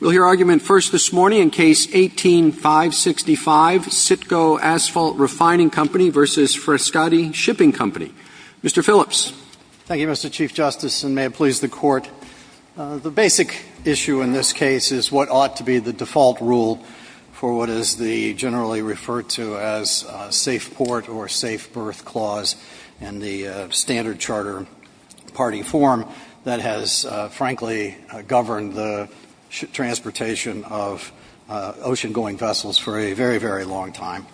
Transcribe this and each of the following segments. We'll hear argument first this morning in Case 18-565, CITGO Asphalt Refining Co. v. Frescati Shipping Co. Mr. Phillips. Thank you, Mr. Chief Justice, and may it please the Court. The basic issue in this case is what ought to be the default rule for what is the generally referred to as safe port or safe berth clause in the standard Charter Party form that has, frankly, governed the transportation of ocean-going vessels for a very, very long time.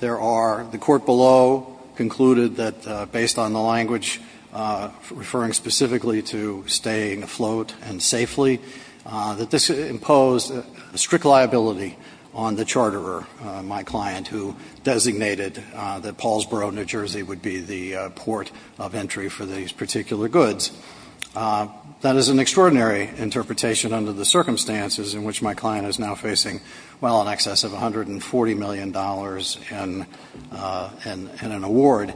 There are – the Court below concluded that, based on the language referring specifically to staying afloat and safely, that this imposed a strict liability on the charterer, my client, who designated that Paulsboro, New Jersey, would be the port of entry for these particular goods. That is an extraordinary interpretation under the circumstances in which my client is now facing, well, in excess of $140 million in an award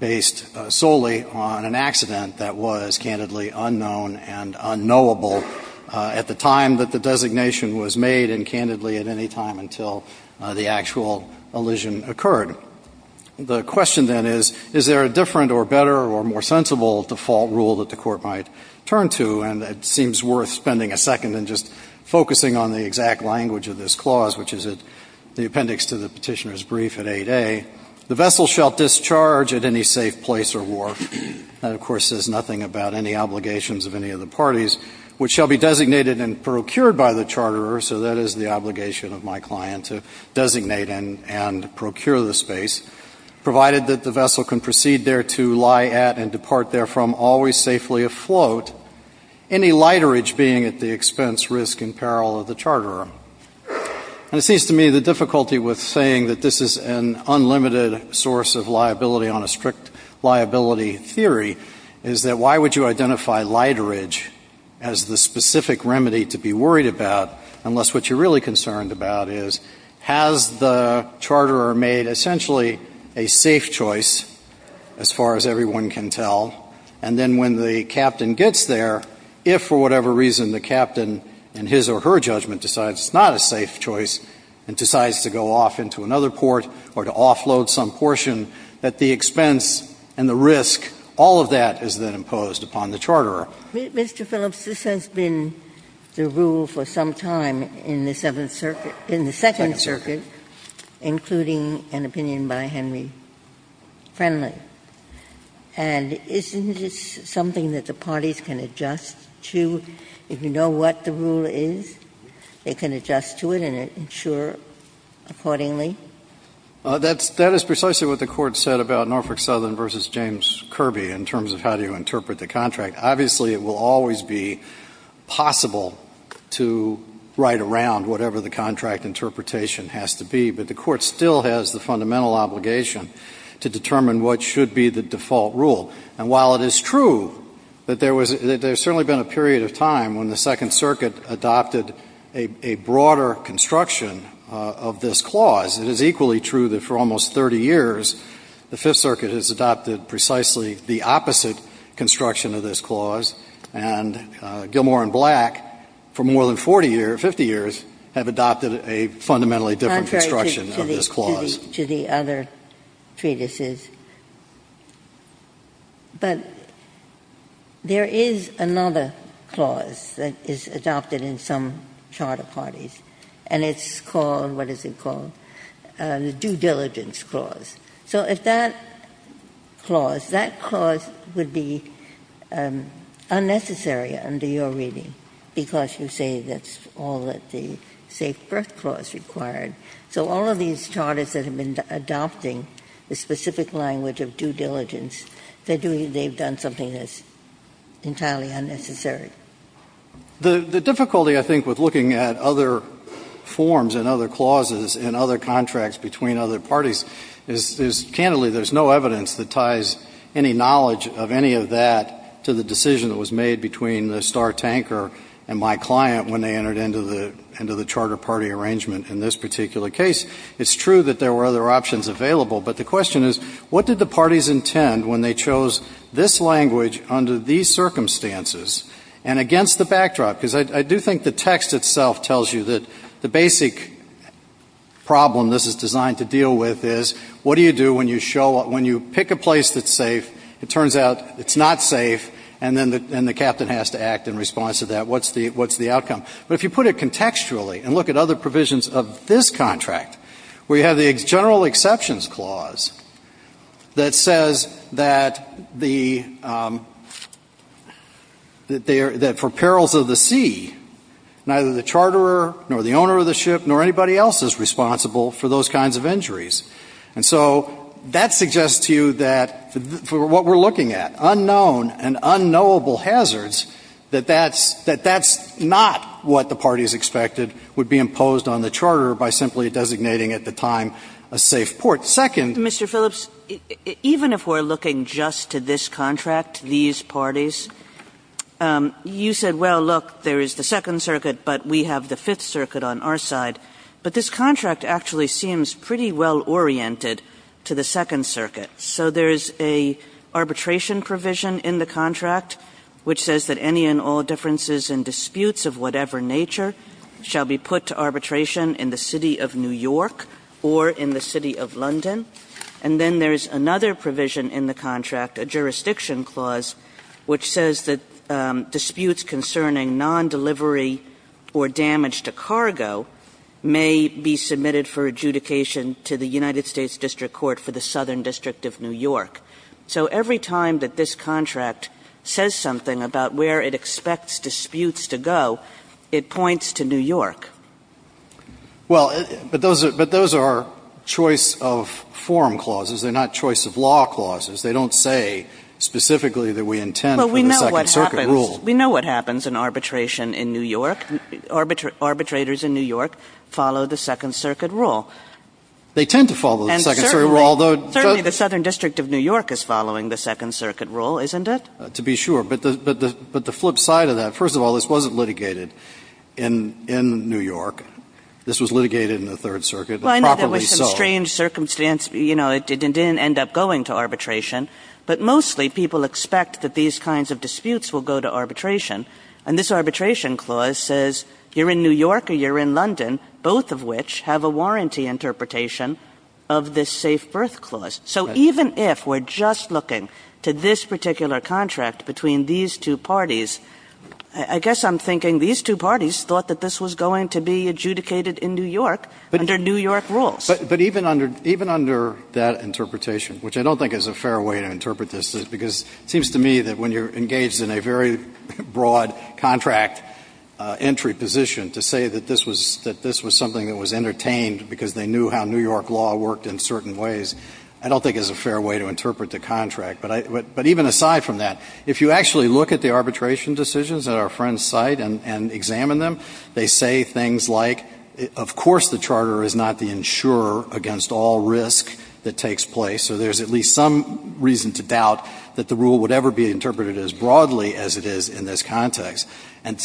based solely on an accident that was, candidly, unknown and unknowable at the time that the designation was made, and, candidly, at any time until the actual elision occurred. The question, then, is, is there a different or better or more sensible default rule that the Court might turn to? And it seems worth spending a second and just focusing on the exact language of this clause, which is at the appendix to the Petitioner's Brief at 8A. The vessel shall discharge at any safe place or wharf. That, of course, says nothing about any obligations of any of the parties, which shall be designated and procured by the charterer. So that is the obligation of my client, to designate and procure the space, provided that the vessel can proceed thereto, lie at, and depart therefrom always safely afloat, any literage being at the expense, risk, and peril of the charterer. And it seems to me the difficulty with saying that this is an unlimited source of liability on a strict liability theory is that why would you identify literage as the specific remedy to be worried about, unless what you're really concerned about is, has the charterer made essentially a safe choice, as far as everyone can tell, and then when the captain gets there, if for whatever reason the captain, in his or her judgment, decides it's not a safe choice and decides to go off into another port or to offload some portion, that the expense and the risk, all of that is then imposed upon the charterer. Ginsburg. Mr. Phillips, this has been the rule for some time in the Seventh Circuit, in the Second Circuit, including an opinion by Henry Friendly. And isn't this something that the parties can adjust to? If you know what the rule is, they can adjust to it and ensure accordingly? That's — that is precisely what the Court said about Norfolk Southern v. James Kirby in terms of how do you interpret the contract. Obviously, it will always be possible to write around whatever the contract interpretation has to be, but the Court still has the fundamental obligation to determine what should be the default rule. And while it is true that there was — that there's certainly been a period of time when the Second Circuit adopted a broader construction of this clause, it is equally true that for almost 30 years, the Fifth Circuit has adopted precisely the opposite construction of this clause, and Gilmour and Black, for more than 40 years, 50 years, have adopted a fundamentally different construction of this clause. Contrary to the other treatises. But there is another clause that is adopted in some charter parties, and it's called — what is it called? The due diligence clause. So if that clause — that clause would be unnecessary under your reading, because you say that's all that the safe birth clause required. So all of these charters that have been adopting the specific language of due diligence, they're doing — they've done something that's entirely unnecessary. The — the difficulty, I think, with looking at other forms and other clauses and other parties is, candidly, there's no evidence that ties any knowledge of any of that to the decision that was made between the star tanker and my client when they entered into the — into the charter party arrangement in this particular case. It's true that there were other options available, but the question is, what did the parties intend when they chose this language under these circumstances and against the backdrop? Because I do think the text itself tells you that the basic problem this is designed to deal with is, what do you do when you show — when you pick a place that's safe, it turns out it's not safe, and then the — and the captain has to act in response to that. What's the — what's the outcome? But if you put it contextually and look at other provisions of this contract, we have the general exceptions clause that says that the — that for perils of the sea, neither the charterer nor the owner of the ship nor anybody else is responsible for those kinds of injuries. And so that suggests to you that for what we're looking at, unknown and unknowable hazards, that that's — that that's not what the parties expected would be imposed on the charterer by simply designating at the time a safe port. Second — Kagan. Mr. Phillips, even if we're looking just to this contract, these parties, you said, well, look, there is the Second Circuit, but we have the Fifth Circuit on our side. But this contract actually seems pretty well-oriented to the Second Circuit. So there is a arbitration provision in the contract which says that any and all differences and disputes of whatever nature shall be put to arbitration in the City of New York or in the City of London. And then there is another provision in the contract, a jurisdiction clause, which says that disputes concerning non-delivery or damage to cargo may be submitted for adjudication to the United States District Court for the Southern District of New York. So every time that this contract says something about where it expects disputes to go, it points to New York. Well, but those are — but those are choice of form clauses. They're not choice of law clauses. But what happens — The Second Circuit rule. We know what happens in arbitration in New York. Arbitrators in New York follow the Second Circuit rule. They tend to follow the Second Circuit rule, although — And certainly — certainly the Southern District of New York is following the Second Circuit rule, isn't it? To be sure. But the — but the flip side of that, first of all, this wasn't litigated in New York. This was litigated in the Third Circuit, and properly so. Well, I know there were some strange circumstances. You know, it didn't end up going to arbitration. But mostly people expect that these kinds of disputes will go to arbitration. And this arbitration clause says you're in New York or you're in London, both of which have a warranty interpretation of this safe birth clause. So even if we're just looking to this particular contract between these two parties, I guess I'm thinking these two parties thought that this was going to be adjudicated in New York under New York rules. But even under — even under that interpretation, which I don't think is a fair way to interpret this, because it seems to me that when you're engaged in a very broad contract entry position, to say that this was — that this was something that was entertained because they knew how New York law worked in certain ways, I don't think is a fair way to interpret the contract. But even aside from that, if you actually look at the arbitration decisions at our friend's time, they say things like, of course the charter is not the insurer against all risk that takes place, so there's at least some reason to doubt that the rule would ever be interpreted as broadly as it is in this context. And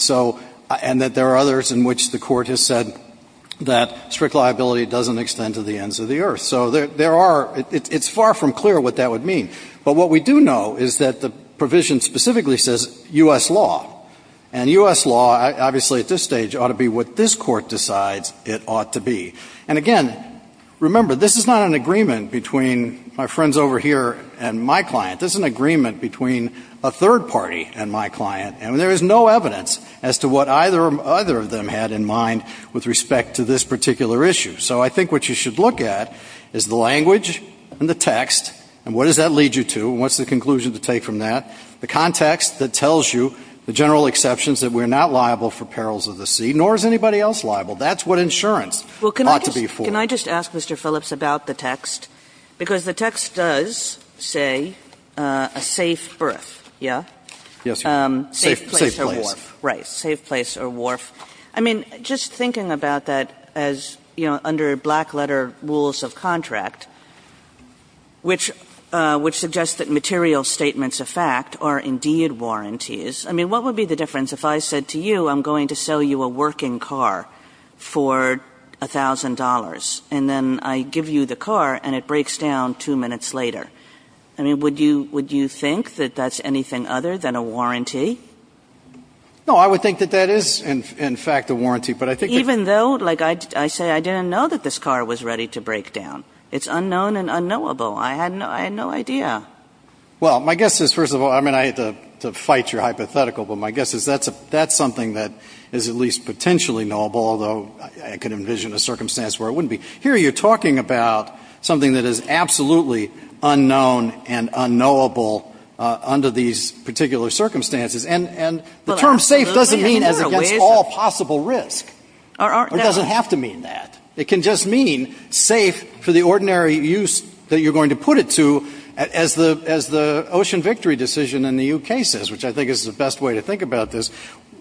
so — and that there are others in which the Court has said that strict liability doesn't extend to the ends of the earth. So there are — it's far from clear what that would mean. But what we do know is that the provision specifically says U.S. law. And U.S. law, obviously at this stage, ought to be what this Court decides it ought to be. And again, remember, this is not an agreement between my friends over here and my client. This is an agreement between a third party and my client. And there is no evidence as to what either of them had in mind with respect to this particular issue. So I think what you should look at is the language and the text, and what does that lead you to, and what's the conclusion to take from that. The context that tells you the general exceptions that we're not liable for perils of the sea, nor is anybody else liable. That's what insurance ought to be for. Can I just ask, Mr. Phillips, about the text? Because the text does say a safe berth, yeah? Yes. Safe place or wharf. Right, safe place or wharf. I mean, just thinking about that as — you know, under black-letter rules of contract, which suggests that material statements of fact are indeed warranties. I mean, what would be the difference if I said to you, I'm going to sell you a working car for $1,000, and then I give you the car and it breaks down two minutes later? I mean, would you think that that's anything other than a warranty? No, I would think that that is, in fact, a warranty. But I think that — Even though, like I say, I didn't know that this car was ready to break down. It's unknown and unknowable. I had no idea. Well, my guess is, first of all — I mean, I hate to fight your hypothetical, but my guess is that's something that is at least potentially knowable, although I could envision a circumstance where it wouldn't be. Here you're talking about something that is absolutely unknown and unknowable under these particular circumstances. And the term safe doesn't mean against all possible risk. Or it doesn't have to mean that. It can just mean safe for the ordinary use that you're going to put it to, as the Ocean Victory decision in the U.K. says, which I think is the best way to think about this.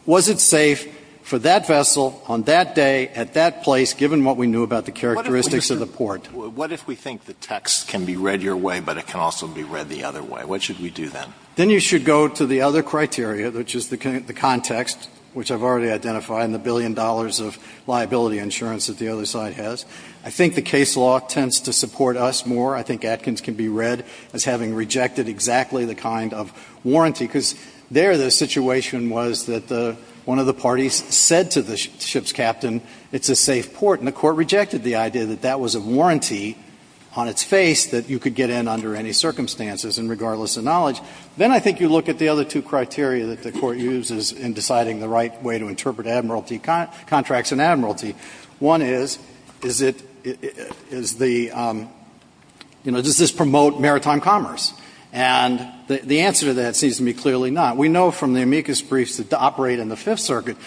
Was it safe for that vessel on that day at that place, given what we knew about the characteristics of the port? What if we think the text can be read your way, but it can also be read the other way? What should we do then? Then you should go to the other criteria, which is the context, which I've already identified, and the billion dollars of liability insurance that the other side has. I think the case law tends to support us more. I think Atkins can be read as having rejected exactly the kind of warranty, because there the situation was that one of the parties said to the ship's captain, it's a safe port, and the Court rejected the idea that that was a warranty on its face that you could get in under any circumstances, and regardless of knowledge. Then I think you look at the other two criteria that the Court uses in deciding the right way to interpret admiralty contracts and admiralty. One is, does this promote maritime commerce? And the answer to that seems to be clearly not. We know from the amicus briefs that operate in the Fifth Circuit,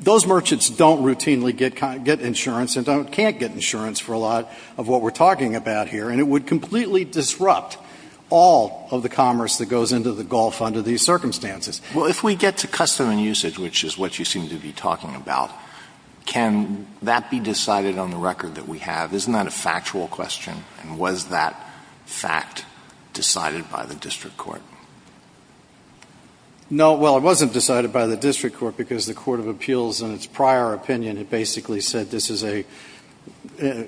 those merchants don't routinely get insurance and can't get insurance for a lot of what we're talking about here, and it would completely disrupt all of the commerce that goes into the Gulf under these circumstances. Well, if we get to custom and usage, which is what you seem to be talking about, can that be decided on the record that we have? Isn't that a factual question, and was that fact decided by the district court? No, well, it wasn't decided by the district court, because the Court of Appeals in its prior opinion had basically said this is a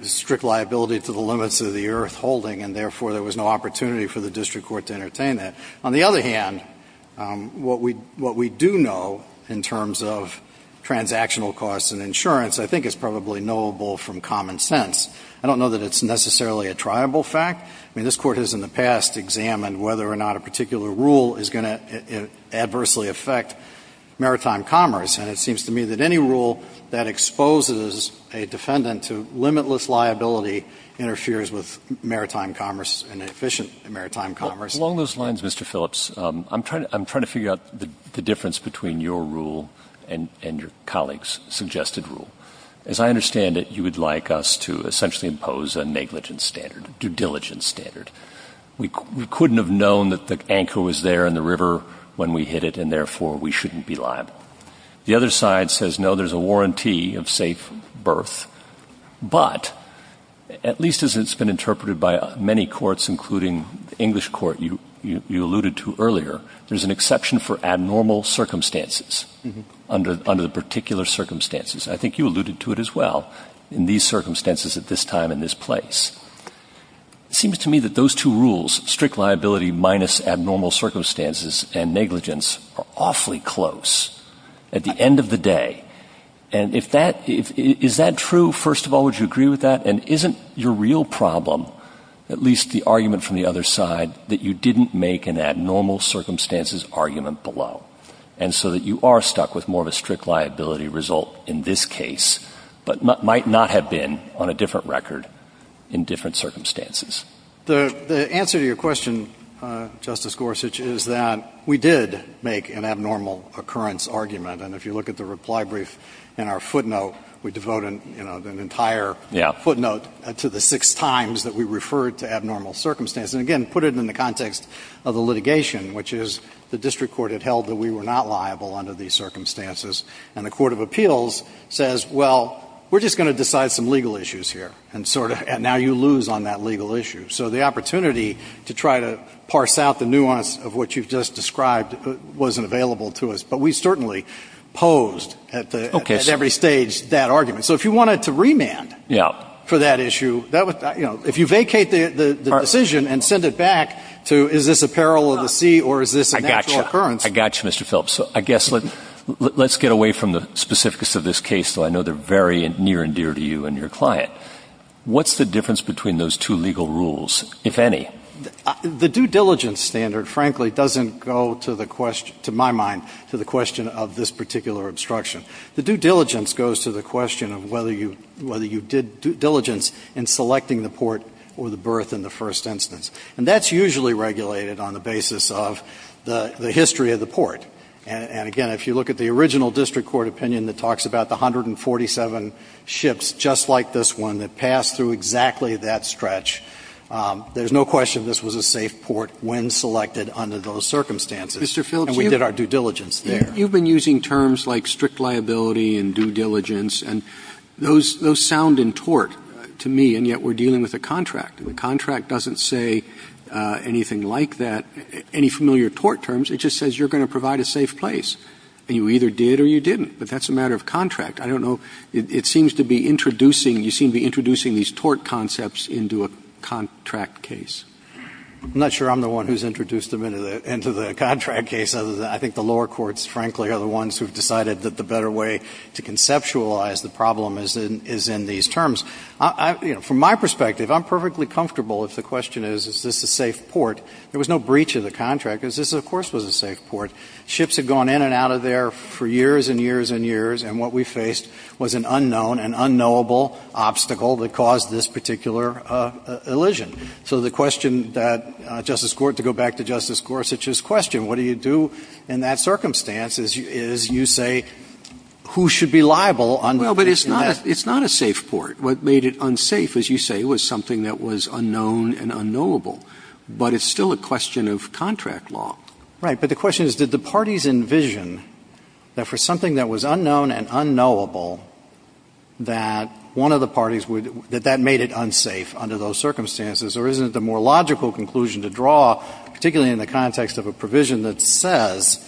strict liability to the limits of the earth holding, and therefore there was no opportunity for the district court to entertain that. On the other hand, what we do know in terms of transactional costs and insurance I think is probably knowable from common sense. I don't know that it's necessarily a triable fact. I mean, this Court has in the past examined whether or not a particular rule is going to adversely affect maritime commerce, and it seems to me that any rule that exposes a defendant to limitless liability interferes with maritime commerce and efficient maritime commerce. Along those lines, Mr. Phillips, I'm trying to figure out the difference between your rule and your colleague's suggested rule. As I understand it, you would like us to essentially impose a negligence standard, due diligence standard. We couldn't have known that the anchor was there in the river when we hit it, and therefore we shouldn't be liable. The other side says, no, there's a warranty of safe berth, but at least as it's been interpreted by many courts, including the English Court you alluded to earlier, there's an exception for abnormal circumstances under the particular circumstances. I think you alluded to it as well in these circumstances at this time and this place. It seems to me that those two rules, strict liability minus abnormal circumstances and negligence, are awfully close at the end of the day. And is that true? First of all, would you agree with that? And isn't your real problem, at least the argument from the other side, that you didn't make an abnormal circumstances argument below? And so that you are stuck with more of a strict liability result in this case, but might not have been on a different record in different circumstances. The answer to your question, Justice Gorsuch, is that we did make an abnormal occurrence argument. And if you look at the reply brief in our footnote, we devote an entire footnote to the six times that we referred to abnormal circumstances. And again, put it in the context of the litigation, which is the district court had held that we were not liable under these circumstances. And the Court of Appeals says, well, we're just going to decide some legal issues here. And now you lose on that legal issue. So the opportunity to try to parse out the nuance of what you've just described wasn't available to us. But we certainly posed at every stage that argument. So if you wanted to remand for that issue, if you vacate the decision and send it back to, is this a peril of the sea, or is this a natural occurrence? I got you, Mr. Phelps. So I guess let's get away from the specifics of this case, though I know they're very near and dear to you and your client. What's the difference between those two legal rules, if any? The due diligence standard, frankly, doesn't go, to my mind, to the question of this particular obstruction. The due diligence goes to the question of whether you did due diligence in selecting the port or the berth in the first instance. And that's usually regulated on the basis of the history of the port. And again, if you look at the original district court opinion that talks about the 147 ships, just like this one, that passed through exactly that stretch, there's no question this was a safe port when selected under those circumstances. You've been using terms like strict liability and due diligence, and those sound in tort to me, and yet we're dealing with a contract. The contract doesn't say anything like that, any familiar tort terms. It just says you're going to provide a safe place. And you either did or you didn't. But that's a matter of contract. I don't know. It seems to be introducing, you seem to be introducing these tort concepts into a contract case. I'm not sure I'm the one who's introduced them into the contract case. I think the lower courts, frankly, are the ones who've decided that the better way to conceptualize the problem is in these terms. From my perspective, I'm perfectly comfortable if the question is, is this a safe port? There was no breach of the contract, because this, of course, was a safe port. Ships had gone in and out of there for years and years and years, and what we faced was an unknown, an unknowable obstacle that caused this particular elision. So the question that Justice Gorsuch, to go back to Justice Gorsuch's question, what do you do in that circumstance, is you say, who should be liable under this? Well, but it's not a safe port. What made it unsafe, as you say, was something that was unknown and unknowable. But it's still a question of contract law. Right. But the question is, did the parties envision that for something that was unknown and unknowable, that one of the parties would — that that made it unsafe under those circumstances? Or isn't it the more logical conclusion to draw, particularly in the context of a provision that says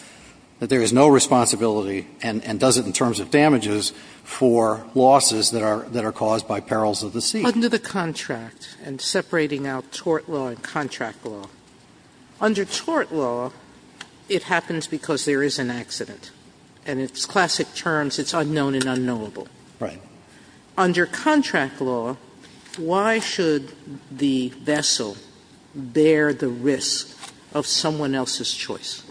that there is no responsibility, and does it in terms of damages, for losses that are — that are caused by perils of the sea? Under the contract, and separating out tort law and contract law, under tort law, it happens because there is an accident, and it's classic terms, it's unknown and unknowable. Right. Under contract law, why should the vessel bear the risk of someone else's choice?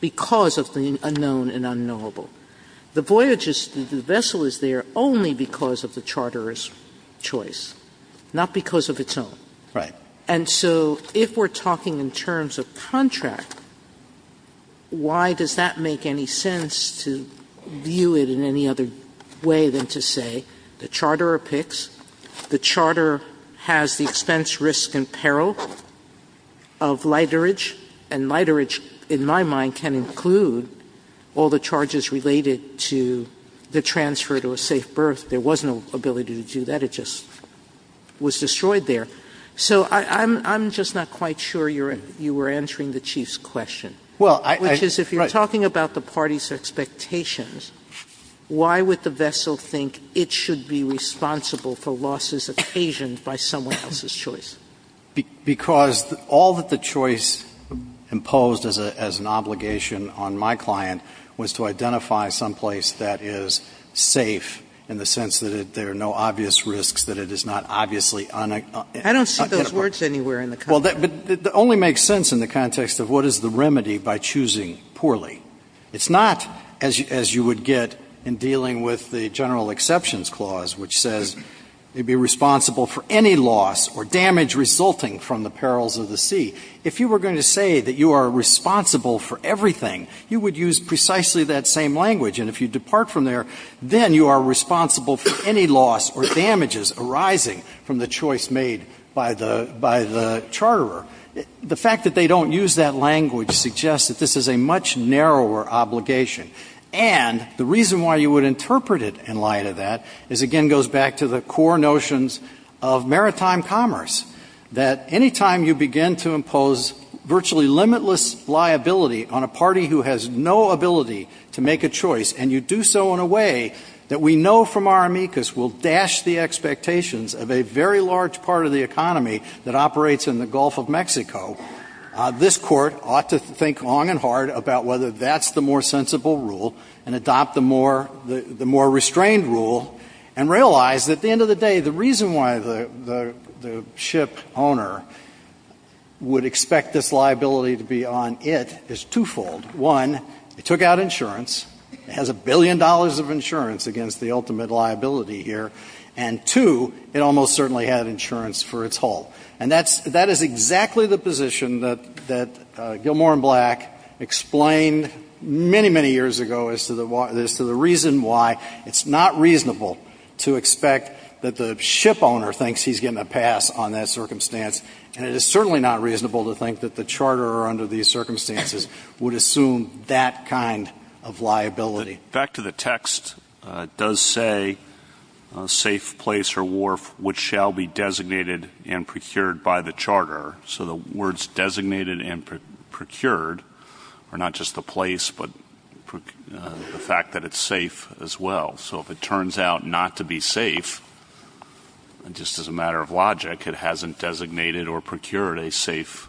Because of the unknown and unknowable. The voyage is — the vessel is there only because of the charterer's choice, not because of its own. Right. And so if we're talking in terms of contract, why does that make any sense to view it in any other way than to say the charterer picks, the charterer has the expense, risk, and peril of literage, and literage, in my mind, can include all the charges related to the transfer to a safe berth. There was no ability to do that. It just was destroyed there. So I'm — I'm just not quite sure you're — you were answering the Chief's question. Well, I — Which is, if you're talking about the party's expectations, why would the vessel think it should be responsible for losses occasioned by someone else's choice? Because all that the choice imposed as an obligation on my client was to identify someplace that is safe in the sense that there are no obvious risks, that it is not obviously unaccountable. I don't see those words anywhere in the contract. Well, but it only makes sense in the context of what is the remedy by choosing poorly. It's not, as you would get in dealing with the General Exceptions Clause, which says they'd be responsible for any loss or damage resulting from the perils of the sea. If you were going to say that you are responsible for everything, you would use precisely that same language. And if you depart from there, then you are responsible for any loss or damages arising from the choice made by the — by the charterer. The fact that they don't use that language suggests that this is a much narrower obligation. And the reason why you would interpret it in light of that is, again, goes back to the core notions of maritime commerce, that any time you begin to impose virtually limitless liability on a party who has no ability to make a choice, and you do so in a way that we know from our amicus will dash the expectations of a very large part of the economy that operates in the Gulf of Mexico, this Court ought to think long and hard about whether that's the more sensible rule and adopt the more — the more restrained rule, and realize that at the end of the day, the reason why the — the ship owner would expect this liability to be on it is twofold. One, it took out insurance. It has a billion dollars of insurance against the ultimate liability here. And two, it almost certainly had insurance for its whole. And that's — that is exactly the position that — that Gilmour and Black explained many, many years ago as to the — as to the reason why it's not reasonable to expect that the ship owner thinks he's getting a pass on that circumstance, and it is certainly not reasonable to think that the charterer under these circumstances would assume that kind of liability. Back to the text, it does say, safe place or wharf, which shall be designated and procured by the charterer. So the words designated and procured are not just the place, but the fact that it's safe as well. So if it turns out not to be safe, just as a matter of logic, it hasn't designated or procured a safe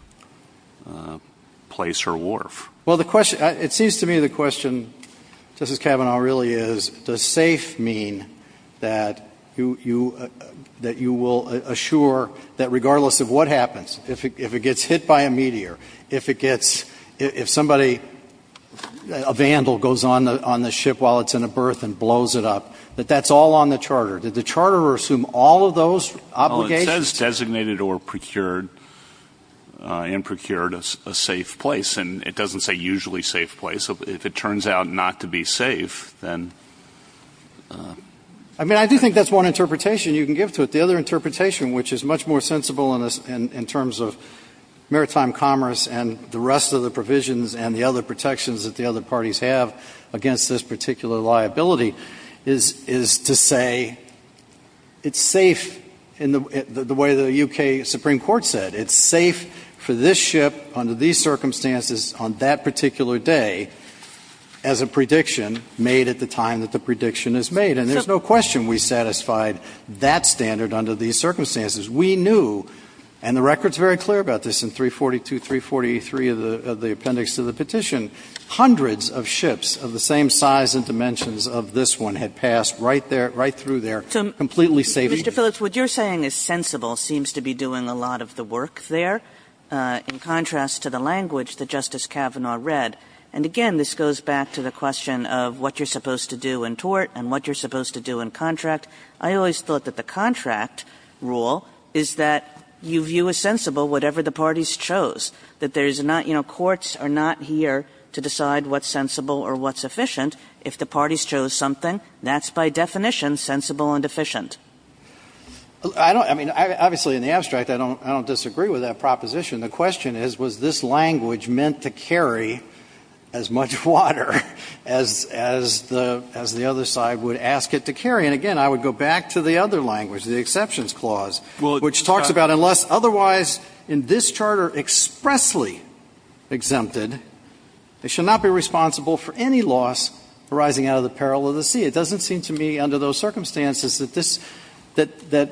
place or wharf. Well, the question — it seems to me the question, Justice Kavanaugh, really is, does safe mean that you — that you will assure that regardless of what happens, if it gets hit by a meteor, if it gets — if somebody — a vandal goes on the — on the ship while it's in a berth and blows it up, that that's all on the charter. Did the charterer assume all of those obligations? It says designated or procured — and procured a safe place, and it doesn't say usually safe place. If it turns out not to be safe, then — I mean, I do think that's one interpretation you can give to it. The other interpretation, which is much more sensible in terms of maritime commerce and the rest of the provisions and the other protections that the other parties have against this particular liability, is to say it's safe in the way the U.K. Supreme Court said. It's safe for this ship under these circumstances on that particular day as a prediction made at the time that the prediction is made. And there's no question we satisfied that standard under these circumstances. We knew — and the record's very clear about this in 342, 343 of the appendix to the petition hundreds of ships of the same size and dimensions of this one had passed right there — right through there, completely safe. Kagan. Mr. Phillips, what you're saying is sensible seems to be doing a lot of the work there in contrast to the language that Justice Kavanaugh read. And again, this goes back to the question of what you're supposed to do in tort and what you're supposed to do in contract. I always thought that the contract rule is that you view as sensible whatever the parties chose, that there's not — you know, courts are not here to decide what's sensible or what's efficient. If the parties chose something, that's by definition sensible and efficient. I don't — I mean, obviously, in the abstract, I don't disagree with that proposition. The question is, was this language meant to carry as much water as the other side would ask it to carry? And again, I would go back to the other language, the exceptions clause, which talks about Unless otherwise in this charter expressly exempted, they shall not be responsible for any loss arising out of the peril of the sea. It doesn't seem to me under those circumstances that this — that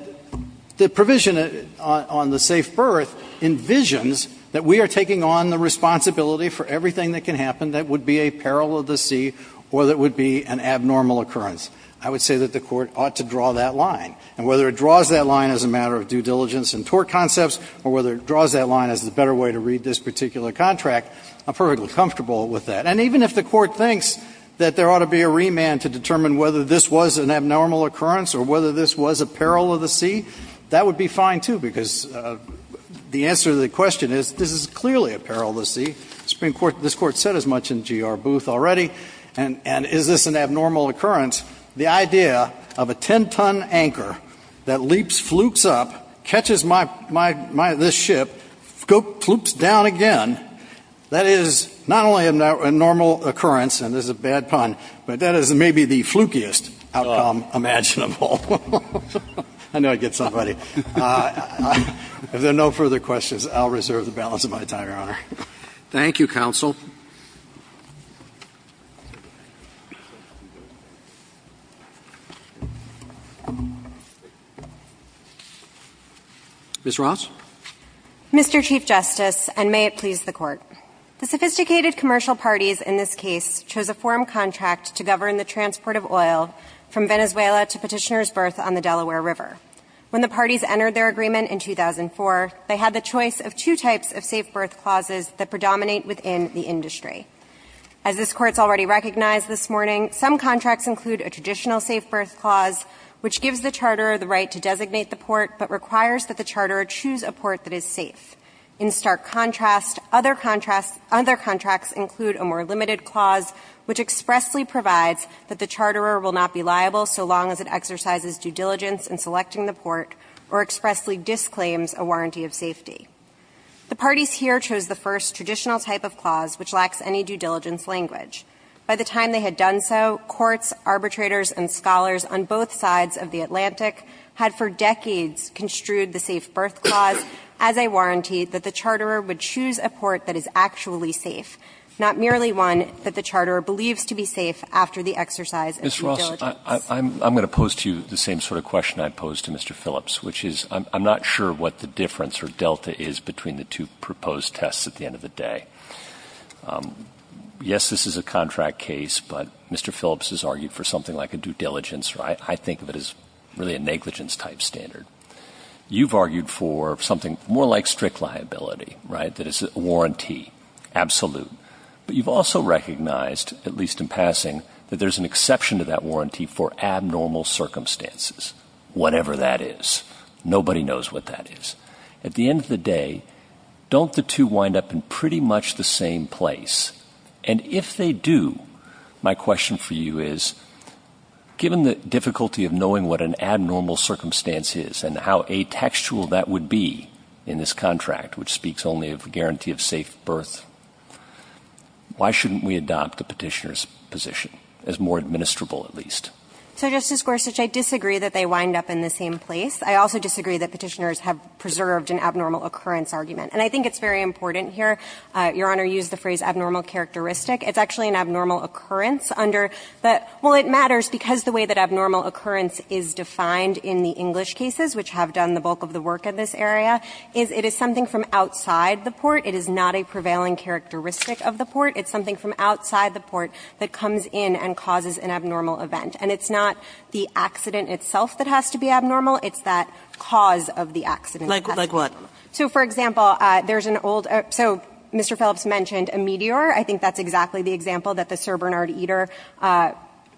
the provision on the safe berth envisions that we are taking on the responsibility for everything that can happen that would be a peril of the sea or that would be an abnormal occurrence. I would say that the Court ought to draw that line. And whether it draws that line as a matter of due diligence and tort concepts or whether it draws that line as a better way to read this particular contract, I'm perfectly comfortable with that. And even if the Court thinks that there ought to be a remand to determine whether this was an abnormal occurrence or whether this was a peril of the sea, that would be fine, too, because the answer to the question is, this is clearly a peril of the sea. This Court said as much in GR Booth already. And is this an abnormal occurrence? The idea of a 10-ton anchor that leaps, flukes up, catches this ship, flukes down again, that is not only an abnormal occurrence, and this is a bad pun, but that is maybe the flukiest outcome imaginable. I knew I'd get somebody. If there are no further questions, I'll reserve the balance of my time, Your Honor. Thank you, counsel. Ms. Ross. Mr. Chief Justice, and may it please the Court. The sophisticated commercial parties in this case chose a forum contract to govern the transport of oil from Venezuela to Petitioner's berth on the Delaware River. When the parties entered their agreement in 2004, they had the choice of two types of safe berth clauses that predominate within the industry. As this Court's already recognized this morning, some contracts include a traditional safe berth clause, which gives the charterer the right to designate the port, but requires that the charterer choose a port that is safe. In stark contrast, other contracts include a more limited clause, which expressly provides that the charterer will not be liable so long as it exercises due diligence in selecting the port, or expressly disclaims a warranty of safety. The parties here chose the first traditional type of clause, which lacks any due diligence language. By the time they had done so, courts, arbitrators, and scholars on both sides of the Atlantic had for decades construed the safe berth clause as a warranty that the charterer would choose a port that is actually safe, not merely one that the charterer believes to be safe after the exercise of due diligence. Mr. Ross, I'm going to pose to you the same sort of question I posed to Mr. Phillips, which is I'm not sure what the difference or delta is between the two proposed tests at the end of the day. Yes, this is a contract case, but Mr. Phillips has argued for something like a due diligence, right? I think of it as really a negligence-type standard. You've argued for something more like strict liability, right, that is a warranty, absolute. But you've also recognized, at least in passing, that there's an exception to that Nobody knows what that is. At the end of the day, don't the two wind up in pretty much the same place? And if they do, my question for you is, given the difficulty of knowing what an abnormal circumstance is and how atextual that would be in this contract, which speaks only of a guarantee of safe berth, why shouldn't we adopt the petitioner's So, Justice Gorsuch, I disagree that they wind up in the same place. I also disagree that petitioners have preserved an abnormal occurrence argument. And I think it's very important here. Your Honor used the phrase abnormal characteristic. It's actually an abnormal occurrence under the – well, it matters because the way that abnormal occurrence is defined in the English cases, which have done the bulk of the work in this area, is it is something from outside the port. It is not a prevailing characteristic of the port. It's something from outside the port that comes in and causes an abnormal event. And it's not the accident itself that has to be abnormal. It's that cause of the accident. Like what? So, for example, there's an old – so, Mr. Phillips mentioned a meteor. I think that's exactly the example that the Sir Bernard Eder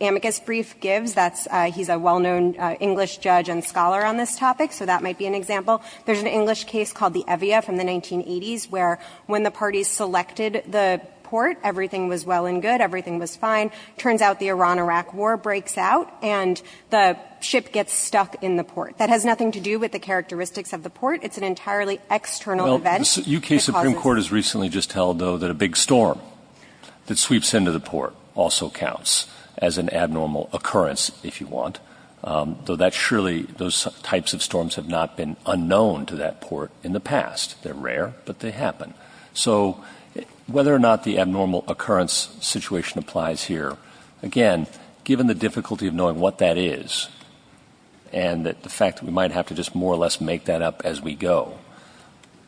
amicus brief gives. That's – he's a well-known English judge and scholar on this topic, so that might be an example. There's an English case called the Evia from the 1980s, where when the parties selected the port, everything was well and good. Everything was fine. Turns out the Iran-Iraq War breaks out, and the ship gets stuck in the port. That has nothing to do with the characteristics of the port. It's an entirely external event. Well, the U.K. Supreme Court has recently just held, though, that a big storm that sweeps into the port also counts as an abnormal occurrence, if you want, though that surely – those types of storms have not been unknown to that port in the past. They're rare, but they happen. So whether or not the abnormal occurrence situation applies here, again, given the difficulty of knowing what that is and the fact that we might have to just more or less make that up as we go,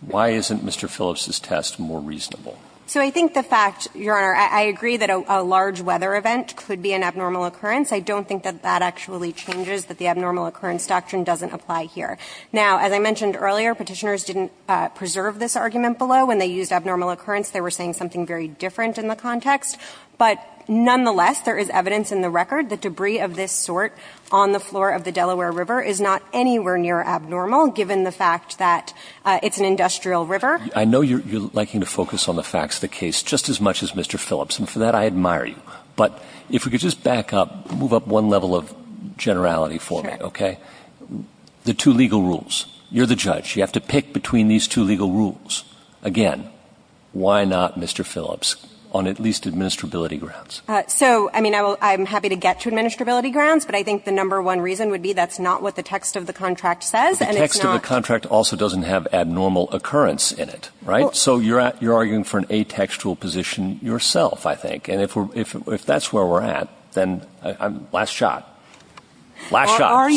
why isn't Mr. Phillips' test more reasonable? So I think the fact, Your Honor, I agree that a large weather event could be an abnormal occurrence. I don't think that that actually changes, that the abnormal occurrence doctrine doesn't apply here. Now, as I mentioned earlier, Petitioners didn't preserve this argument below when they used abnormal occurrence. They were saying something very different in the context. But nonetheless, there is evidence in the record that debris of this sort on the floor of the Delaware River is not anywhere near abnormal, given the fact that it's an industrial river. I know you're liking to focus on the facts of the case just as much as Mr. Phillips, and for that I admire you. But if we could just back up, move up one level of generality for me, okay? Sure. The two legal rules. You're the judge. You have to pick between these two legal rules. Again, why not Mr. Phillips on at least administrability grounds? So, I mean, I'm happy to get to administrability grounds, but I think the number one reason would be that's not what the text of the contract says, and it's not The text of the contract also doesn't have abnormal occurrence in it, right? So you're arguing for an atextual position yourself, I think. And if that's where we're at, then last shot. Are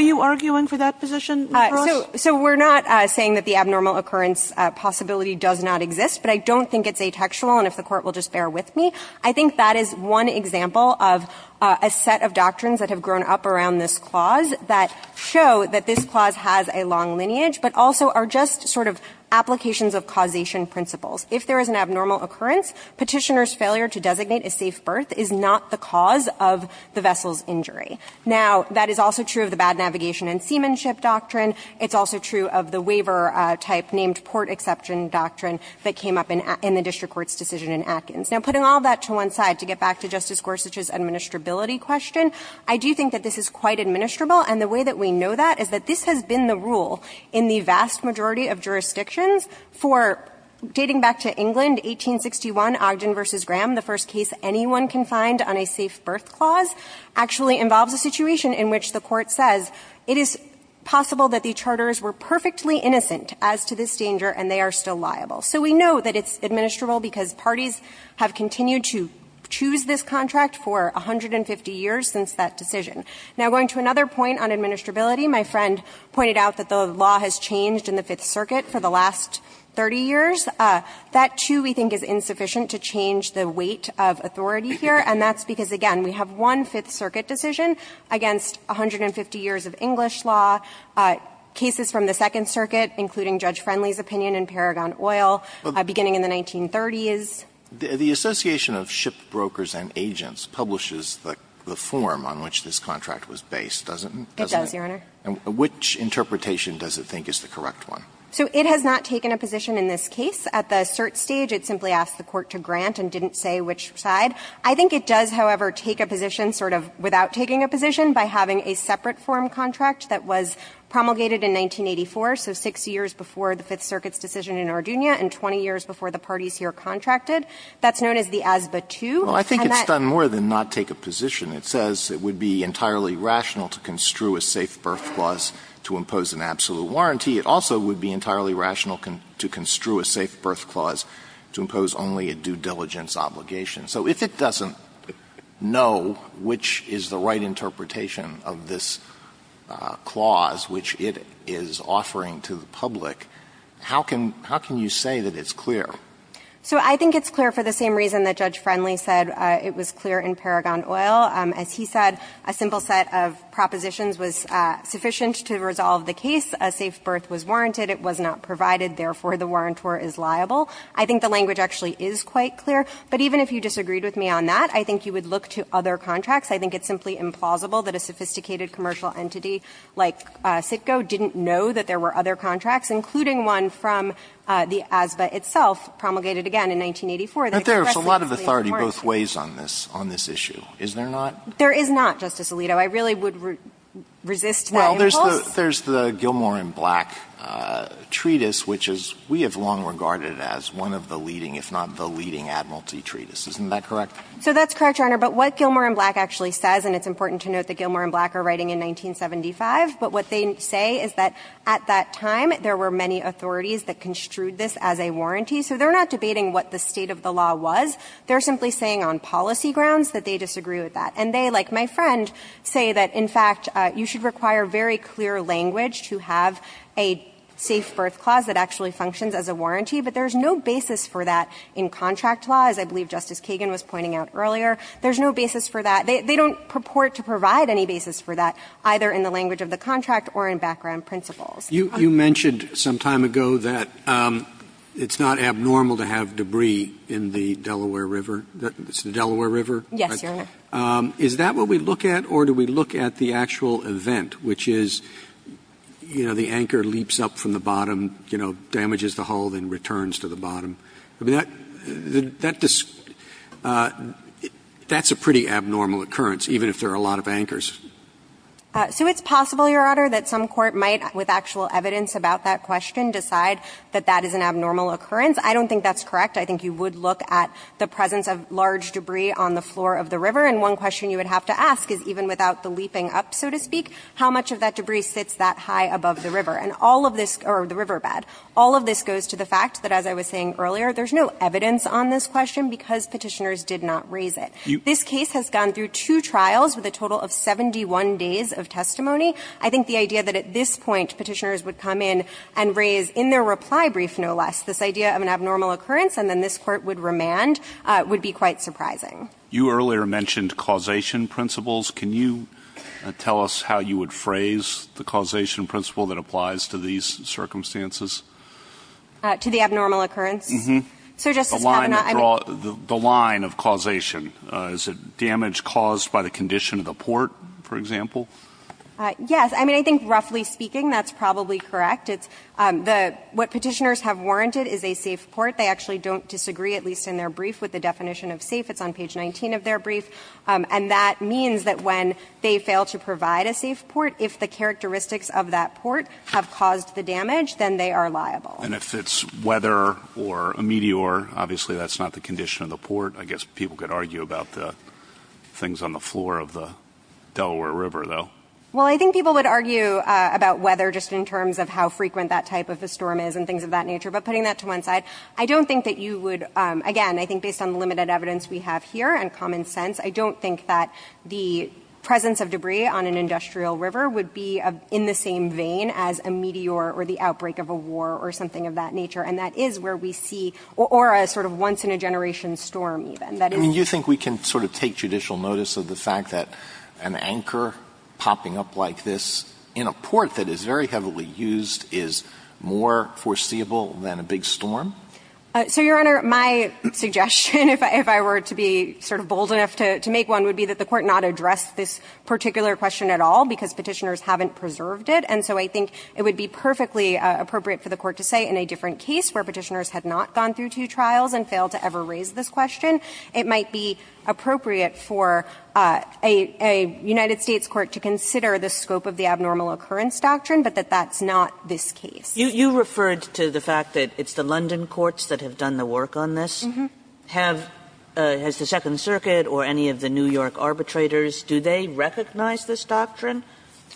you arguing for that position, Mr. Ross? So we're not saying that the abnormal occurrence possibility does not exist, but I don't think it's atextual, and if the Court will just bear with me. I think that is one example of a set of doctrines that have grown up around this clause that show that this clause has a long lineage, but also are just sort of applications of causation principles. If there is an abnormal occurrence, Petitioner's failure to designate a safe birth is not the cause of the vessel's injury. Now, that is also true of the bad navigation and seamanship doctrine. It's also true of the waiver-type named port exception doctrine that came up in the district court's decision in Atkins. Now, putting all that to one side, to get back to Justice Gorsuch's administrability question, I do think that this is quite administrable, and the way that we know that is that this has been the rule in the vast majority of jurisdictions for, dating back to England, 1861, Ogden v. Graham, the first case anyone can find on a safe birth clause, actually involves a situation in which the Court says it is possible that the charters were perfectly innocent as to this danger and they are still liable. So we know that it's administrable because parties have continued to choose this contract for 150 years since that decision. Now, going to another point on administrability, my friend pointed out that the law has changed in the Fifth Circuit for the last 30 years. That, too, we think is insufficient to change the weight of authority here, and that's because, again, we have one Fifth Circuit decision against 150 years of English law, cases from the Second Circuit, including Judge Friendly's opinion in Paragon Oil, beginning in the 1930s. The Association of Ship Brokers and Agents publishes the form on which this contract was based, doesn't it? It does, Your Honor. And which interpretation does it think is the correct one? So it has not taken a position in this case. At the cert stage, it simply asked the Court to grant and didn't say which side. I think it does, however, take a position sort of without taking a position by having a separate form contract that was promulgated in 1984, so 6 years before the Fifth Circuit's decision in Ardugna and 20 years before the parties here contracted. That's known as the ASBA II. And that ---- Well, I think it's done more than not take a position. It says it would be entirely rational to construe a safe birth clause to impose an absolute warranty. It also would be entirely rational to construe a safe birth clause to impose only a due diligence obligation. So if it doesn't know which is the right interpretation of this clause which it is offering to the public, how can you say that it's clear? So I think it's clear for the same reason that Judge Friendly said it was clear in Paragon Oil. As he said, a simple set of propositions was sufficient to resolve the case. A safe birth was warranted. It was not provided. Therefore, the warrantor is liable. I think the language actually is quite clear. But even if you disagreed with me on that, I think you would look to other contracts. I think it's simply implausible that a sophisticated commercial entity like CITCO didn't know that there were other contracts, including one from the ASBA itself, promulgated again in 1984. They expressly ---- But there is a lot of authority both ways on this, on this issue. Is there not? There is not, Justice Alito. I really would resist that impulse. Well, there's the Gilmore and Black Treatise, which is we have long regarded as one of the leading, if not the leading, admiralty treatises. Isn't that correct? So that's correct, Your Honor. But what Gilmore and Black actually says, and it's important to note that Gilmore and Black are writing in 1975, but what they say is that at that time there were many authorities that construed this as a warranty. So they're not debating what the state of the law was. They're simply saying on policy grounds that they disagree with that. And they, like my friend, say that, in fact, you should require very clear language to have a safe birth clause that actually functions as a warranty. But there's no basis for that in contract law, as I believe Justice Kagan was pointing out earlier. There's no basis for that. They don't purport to provide any basis for that, either in the language of the contract or in background principles. You mentioned some time ago that it's not abnormal to have debris in the Delaware River, the Delaware River. Yes, Your Honor. Is that what we look at? Or do we look at the actual event, which is, you know, the anchor leaps up from the bottom, you know, damages the hull, then returns to the bottom? I mean, that's a pretty abnormal occurrence, even if there are a lot of anchors. So it's possible, Your Honor, that some court might, with actual evidence about that question, decide that that is an abnormal occurrence. I don't think that's correct. I think you would look at the presence of large debris on the floor of the river and one question you would have to ask is, even without the leaping up, so to speak, how much of that debris sits that high above the river? And all of this, or the riverbed, all of this goes to the fact that, as I was saying earlier, there's no evidence on this question because Petitioners did not raise it. This case has gone through two trials with a total of 71 days of testimony. I think the idea that at this point Petitioners would come in and raise, in their reply brief, no less, this idea of an abnormal occurrence and then this Court would remand would be quite surprising. You earlier mentioned causation principles. Can you tell us how you would phrase the causation principle that applies to these circumstances? To the abnormal occurrence? Uh-huh. So, Justice Kavanaugh, I mean the line of causation. Is it damage caused by the condition of the port, for example? Yes. I mean, I think, roughly speaking, that's probably correct. What Petitioners have warranted is a safe port. They actually don't disagree, at least in their brief, with the definition of safe. It's on page 19 of their brief. And that means that when they fail to provide a safe port, if the characteristics of that port have caused the damage, then they are liable. And if it's weather or a meteor, obviously that's not the condition of the port. I guess people could argue about the things on the floor of the Delaware River though. Well, I think people would argue about weather just in terms of how frequent that type of a storm is and things of that nature. But putting that to one side, I don't think that you would, again, I think based on the limited evidence we have here and common sense, I don't think that the presence of debris on an industrial river would be in the same vein as a meteor or the outbreak of a war or something of that nature. And that is where we see, or a sort of once-in-a-generation storm even. I mean, you think we can sort of take judicial notice of the fact that an anchor popping up like this in a port that is very heavily used is more foreseeable than a big storm? So, Your Honor, my suggestion, if I were to be sort of bold enough to make one, would be that the Court not address this particular question at all because Petitioners haven't preserved it. And so I think it would be perfectly appropriate for the Court to say in a different case where Petitioners had not gone through two trials and failed to ever raise this question, it might be appropriate for a United States court to consider the scope of the abnormal occurrence doctrine, but that that's not this case. You referred to the fact that it's the London courts that have done the work on this. Mm-hmm. Has the Second Circuit or any of the New York arbitrators, do they recognize this doctrine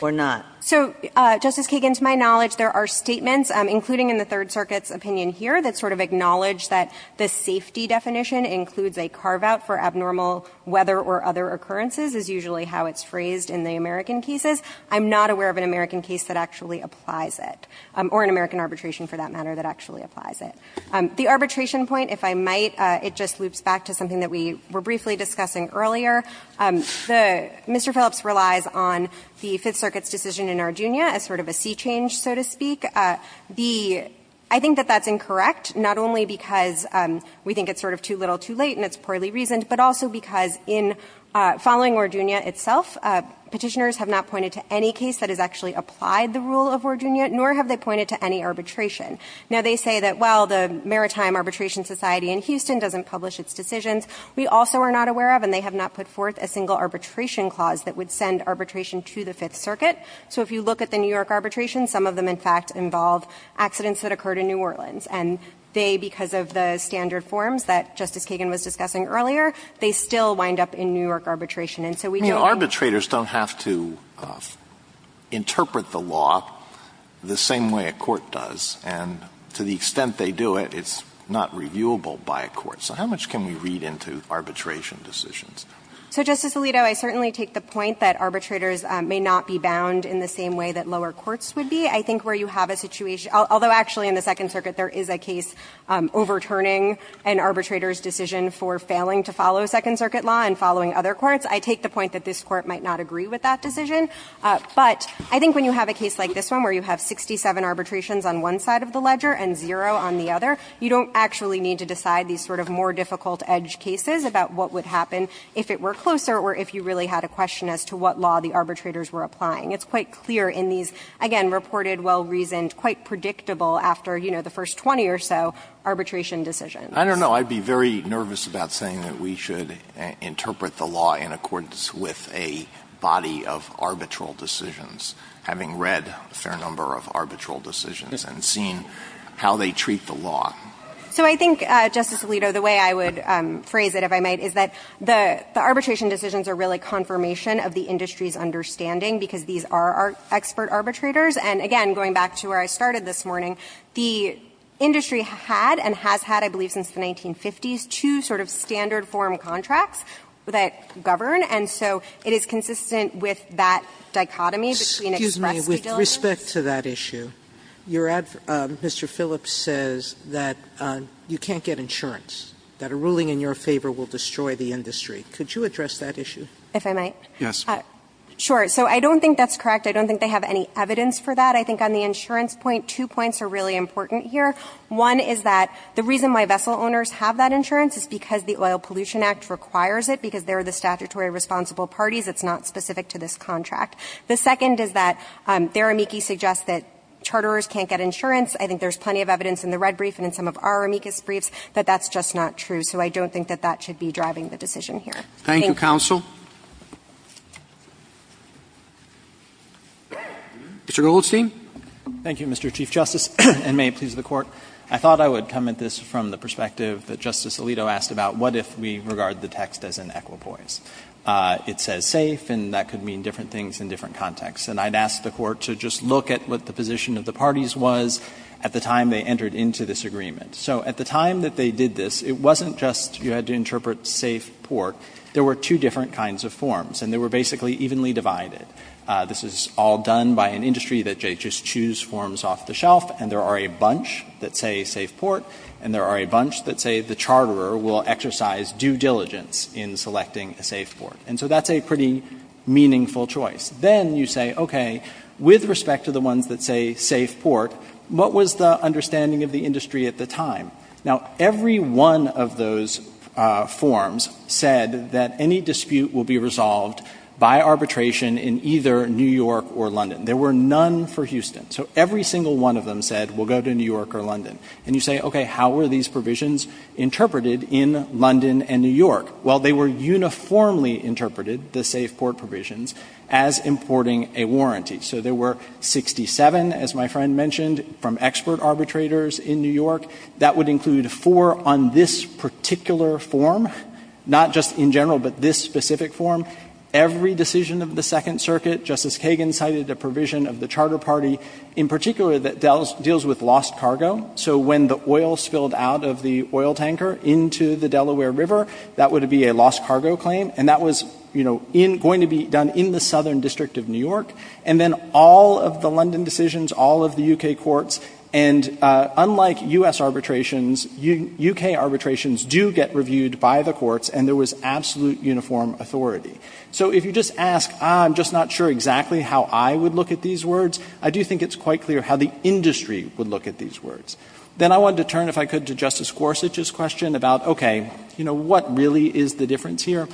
or not? So, Justice Kagan, to my knowledge, there are statements, including in the Third Circuit's opinion here, that sort of acknowledge that the safety definition includes a carve-out for abnormal weather or other occurrences is usually how it's phrased in the American cases. I'm not aware of an American case that actually applies it, or an American arbitration for that matter that actually applies it. The arbitration point, if I might, it just loops back to something that we were briefly discussing earlier. Mr. Phillips relies on the Fifth Circuit's decision in Arduino as sort of a sea change, so to speak. The – I think that that's incorrect, not only because we think it's sort of too little too late and it's poorly reasoned, but also because in following Arduino itself, petitioners have not pointed to any case that has actually applied the rule of Arduino, nor have they pointed to any arbitration. Now, they say that, well, the Maritime Arbitration Society in Houston doesn't publish its decisions. We also are not aware of, and they have not put forth, a single arbitration clause that would send arbitration to the Fifth Circuit. So if you look at the New York arbitration, some of them, in fact, involve accidents that occurred in New Orleans. And they, because of the standard forms that Justice Kagan was discussing earlier, they still wind up in New York arbitration. And so we don't know. Alito, I mean, arbitrators don't have to interpret the law the same way a court does, and to the extent they do it, it's not reviewable by a court. So how much can we read into arbitration decisions? So, Justice Alito, I certainly take the point that arbitrators may not be bound in the same way that lower courts would be. I think where you have a situation – although, actually, in the Second Circuit there is a case overturning an arbitrator's decision for failing to follow Second Circuit law and following other courts. I take the point that this Court might not agree with that decision. But I think when you have a case like this one, where you have 67 arbitrations on one side of the ledger and zero on the other, you don't actually need to decide these sort of more difficult edge cases about what would happen if it were closer or if you really had a question as to what law the arbitrators were applying. It's quite clear in these, again, reported, well-reasoned, quite predictable after, you know, the first 20 or so arbitration decisions. I don't know. So I'd be very nervous about saying that we should interpret the law in accordance with a body of arbitral decisions, having read a fair number of arbitral decisions and seen how they treat the law. So I think, Justice Alito, the way I would phrase it, if I might, is that the arbitration decisions are really confirmation of the industry's understanding, because these are expert arbitrators. And again, going back to where I started this morning, the industry had and has had, I believe, since the 1950s, two sort of standard form contracts that govern, and so it is consistent with that dichotomy between express prediligence. Sotomayor, with respect to that issue, you're at Mr. Phillips says that you can't get insurance, that a ruling in your favor will destroy the industry. Could you address that issue? If I might. Yes. Sure. So I don't think that's correct. I don't think they have any evidence for that. I think on the insurance point, two points are really important here. One is that the reason why vessel owners have that insurance is because the Oil Pollution Act requires it, because they're the statutory responsible parties. It's not specific to this contract. The second is that their amici suggest that charterers can't get insurance. I think there's plenty of evidence in the red brief and in some of our amicus briefs that that's just not true. So I don't think that that should be driving the decision here. Thank you. Thank you, counsel. Mr. Goldstein. Thank you, Mr. Chief Justice. And may it please the Court. I thought I would come at this from the perspective that Justice Alito asked about what if we regard the text as an equipoise. It says safe, and that could mean different things in different contexts. And I'd ask the Court to just look at what the position of the parties was at the time they entered into this agreement. So at the time that they did this, it wasn't just you had to interpret safe, port. There were two different kinds of forms, and they were basically evenly divided. This is all done by an industry that they just choose forms off the shelf, and there are a bunch that say safe, port, and there are a bunch that say the charterer will exercise due diligence in selecting a safe, port. And so that's a pretty meaningful choice. Then you say, okay, with respect to the ones that say safe, port, what was the understanding of the industry at the time? Now, every one of those forms said that any dispute will be resolved by arbitration in either New York or London. There were none for Houston. So every single one of them said, we'll go to New York or London. And you say, okay, how were these provisions interpreted in London and New York? Well, they were uniformly interpreted, the safe, port provisions, as importing a warranty. So there were 67, as my friend mentioned, from expert arbitrators in New York. That would include four on this particular form, not just in general, but this specific form. Every decision of the Second Circuit, Justice Kagan cited a provision of the Charter Party in particular that deals with lost cargo. So when the oil spilled out of the oil tanker into the Delaware River, that would be a lost cargo claim, and that was going to be done in the Southern District of New York. And then all of the London decisions, all of the U.K. courts, and unlike U.S. arbitrations, U.K. arbitrations do get reviewed by the courts, and there was absolute uniform authority. So if you just ask, ah, I'm just not sure exactly how I would look at these words, I do think it's quite clear how the industry would look at these words. Then I wanted to turn, if I could, to Justice Gorsuch's question about, okay, you know, what really is the difference here?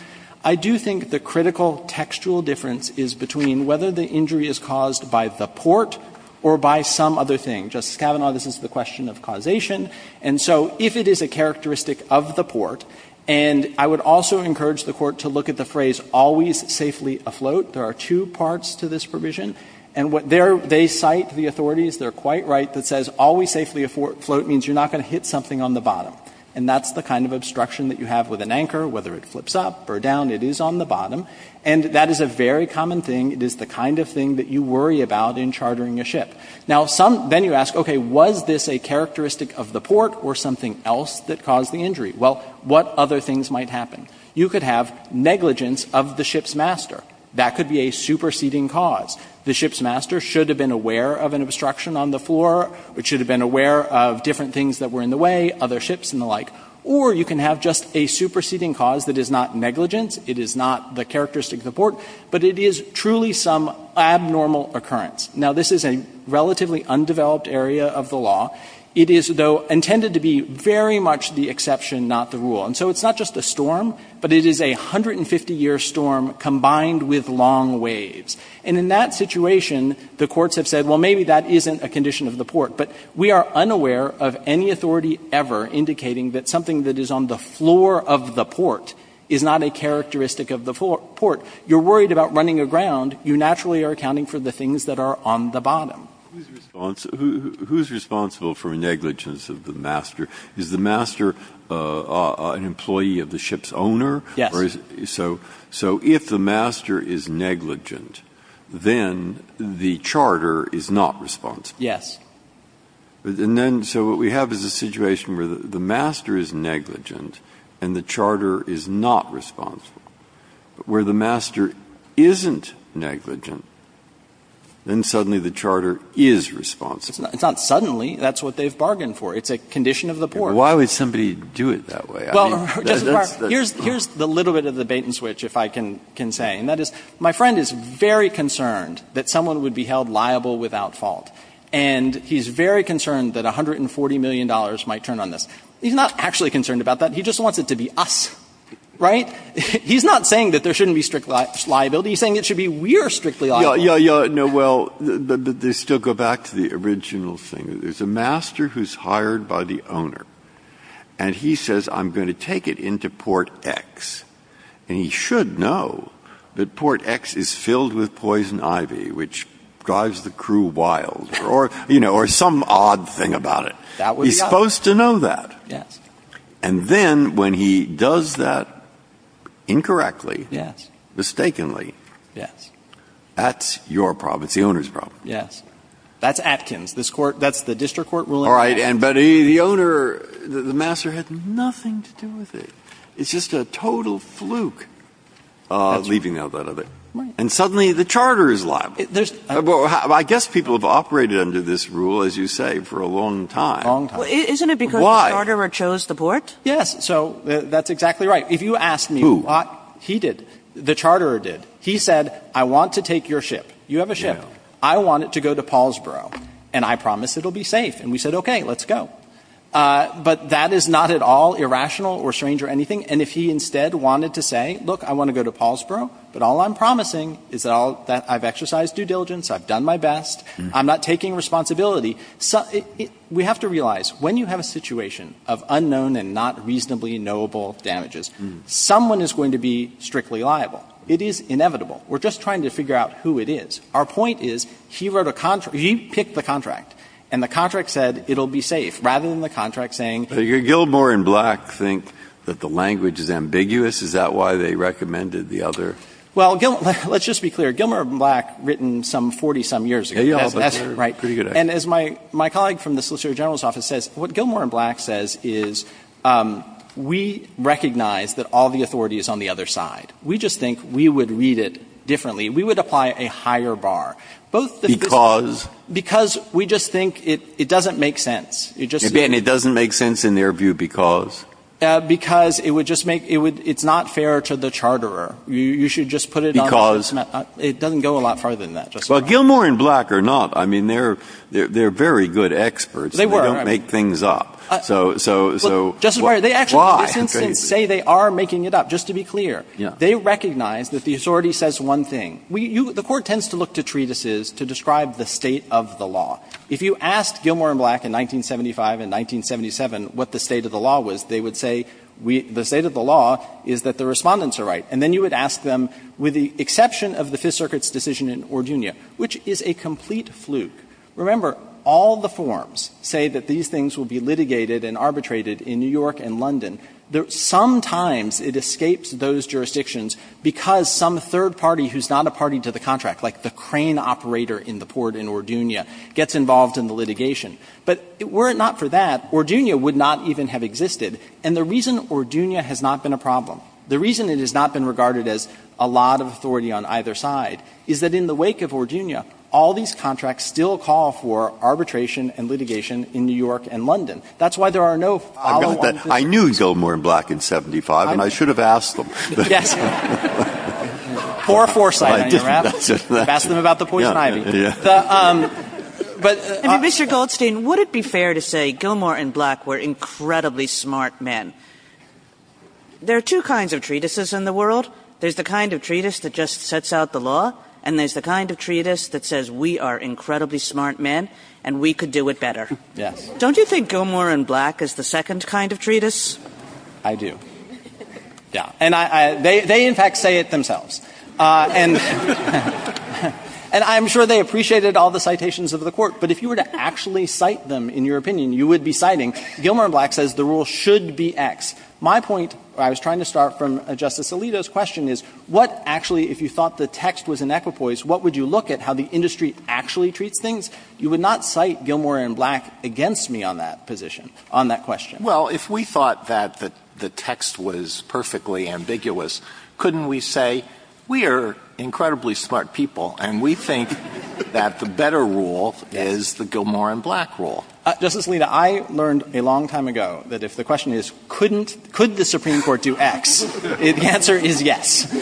I do think the critical textual difference is between whether the injury is caused by the port or by some other thing. Justice Kavanaugh, this is the question of causation. And so if it is a characteristic of the port, and I would also encourage the Court to look at the phrase, always safely afloat. There are two parts to this provision. And what they cite, the authorities, they're quite right, that says always safely afloat means you're not going to hit something on the bottom. And that's the kind of obstruction that you have with an anchor, whether it flips up or down, it is on the bottom. And that is a very common thing. It is the kind of thing that you worry about in chartering a ship. Now, some, then you ask, okay, was this a characteristic of the port or something else that caused the injury? Well, what other things might happen? You could have negligence of the ship's master. That could be a superseding cause. The ship's master should have been aware of an obstruction on the floor. It should have been aware of different things that were in the way, other ships and the like. Or you can have just a superseding cause that is not negligence. It is not the characteristic of the port. But it is truly some abnormal occurrence. Now, this is a relatively undeveloped area of the law. It is, though, intended to be very much the exception, not the rule. And so it's not just a storm, but it is a 150-year storm combined with long waves. And in that situation, the courts have said, well, maybe that isn't a condition of the port. But we are unaware of any authority ever indicating that something that is on the floor of the port is not a characteristic of the port. You're worried about running aground. You naturally are accounting for the things that are on the bottom. Who is responsible for negligence of the master? Is the master an employee of the ship's owner? Yes. So if the master is negligent, then the charter is not responsible. Yes. And then so what we have is a situation where the master is negligent and the charter is not responsible. But where the master isn't negligent, then suddenly the charter is responsible. It's not suddenly. That's what they've bargained for. It's a condition of the port. Why would somebody do it that way? Well, here's the little bit of the bait and switch, if I can say. And that is, my friend is very concerned that someone would be held liable without fault. And he's very concerned that $140 million might turn on this. He's not actually concerned about that. He just wants it to be us. Right? He's not saying that there shouldn't be strict liability. He's saying it should be we're strictly liable. Yeah, yeah, yeah. No, well, they still go back to the original thing. There's a master who's hired by the owner. And he says, I'm going to take it into Port X. And he should know that Port X is filled with poison ivy, which drives the crew wild. Or some odd thing about it. That would be us. He's supposed to know that. Yes. And then, when he does that incorrectly, mistakenly, that's your problem. It's the owner's problem. Yes. That's Atkins. That's the district court ruling. All right. But the owner, the master, had nothing to do with it. It's just a total fluke, leaving out that other. Right. And suddenly, the charter is liable. I guess people have operated under this rule, as you say, for a long time. A long time. Well, isn't it because the charterer chose the port? Yes. So that's exactly right. Who? If you asked me, he did. The charterer did. He said, I want to take your ship. You have a ship. I want it to go to Paulsboro. And I promise it'll be safe. And we said, OK, let's go. But that is not at all irrational or strange or anything. And if he instead wanted to say, look, I want to go to Paulsboro. But all I'm promising is that I've exercised due diligence. I've done my best. I'm not taking responsibility. We have to realize, when you have a situation of unknown and not reasonably knowable damages, someone is going to be strictly liable. It is inevitable. We're just trying to figure out who it is. Our point is, he wrote a contract. He picked the contract. And the contract said, it'll be safe, rather than the contract saying. Did Gilmore and Black think that the language is ambiguous? Is that why they recommended the other? Well, let's just be clear. Gilmore and Black written some 40-some years ago. That's right. Pretty good. And as my colleague from the Solicitor General's office says, what Gilmore and Black says is, we recognize that all the authority is on the other side. We just think we would read it differently. We would apply a higher bar. Because? Because we just think it doesn't make sense. Again, it doesn't make sense in their view because? Because it's not fair to the charterer. You should just put it on. Because? It doesn't go a lot farther than that, Justice Breyer. Well, Gilmore and Black are not. I mean, they're very good experts. They were. They don't make things up. Justice Breyer, they actually, in this instance, say they are making it up. Just to be clear. They recognize that the authority says one thing. The Court tends to look to treatises to describe the state of the law. If you asked Gilmore and Black in 1975 and 1977 what the state of the law was, they would say, the state of the law is that the Respondents are right. And then you would ask them, with the exception of the Fifth Circuit's decision in Orduña, which is a complete fluke. Remember, all the forms say that these things will be litigated and arbitrated in New York and London. Sometimes it escapes those jurisdictions because some third party who's not a party to the contract, like the crane operator in the port in Orduña, gets involved in the litigation. But were it not for that, Orduña would not even have existed. And the reason Orduña has not been a problem, the reason it has not been a problem and has not been regarded as a lot of authority on either side, is that in the wake of Orduña, all these contracts still call for arbitration and litigation in New York and London. That's why there are no follow-on decisions. I knew Gilmore and Black in 1975, and I should have asked them. Yes. For foresight. I didn't. That's it. Ask them about the poison ivy. Yeah. Mr. Goldstein, would it be fair to say Gilmore and Black were incredibly smart men? There are two kinds of treatises in the world. There's the kind of treatise that just sets out the law, and there's the kind of treatise that says we are incredibly smart men and we could do it better. Yes. Don't you think Gilmore and Black is the second kind of treatise? I do. Yeah. And they, in fact, say it themselves. And I'm sure they appreciated all the citations of the court. But if you were to actually cite them in your opinion, you would be citing, Gilmore and Black says the rule should be X. My point, I was trying to start from Justice Alito's question, is what actually if you thought the text was an equipoise, what would you look at how the industry actually treats things? You would not cite Gilmore and Black against me on that position, on that question. Well, if we thought that the text was perfectly ambiguous, couldn't we say we are incredibly smart people and we think that the better rule is the Gilmore and Black rule? Justice Alito, I learned a long time ago that if the question is couldn't, could the Supreme Court do X, the answer is yes.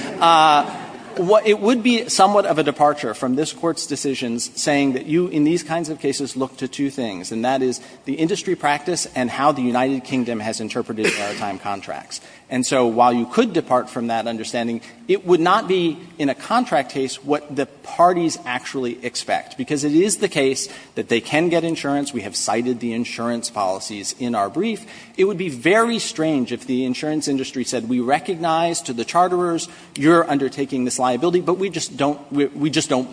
It would be somewhat of a departure from this Court's decisions saying that you, in these kinds of cases, look to two things, and that is the industry practice and how the United Kingdom has interpreted maritime contracts. And so while you could depart from that understanding, it would not be in a contract case what the parties actually expect, because it is the case that they can get what they want. And so if we cited the insurance policies in our brief, it would be very strange if the insurance industry said, we recognize to the charterers you're undertaking this liability, but we just don't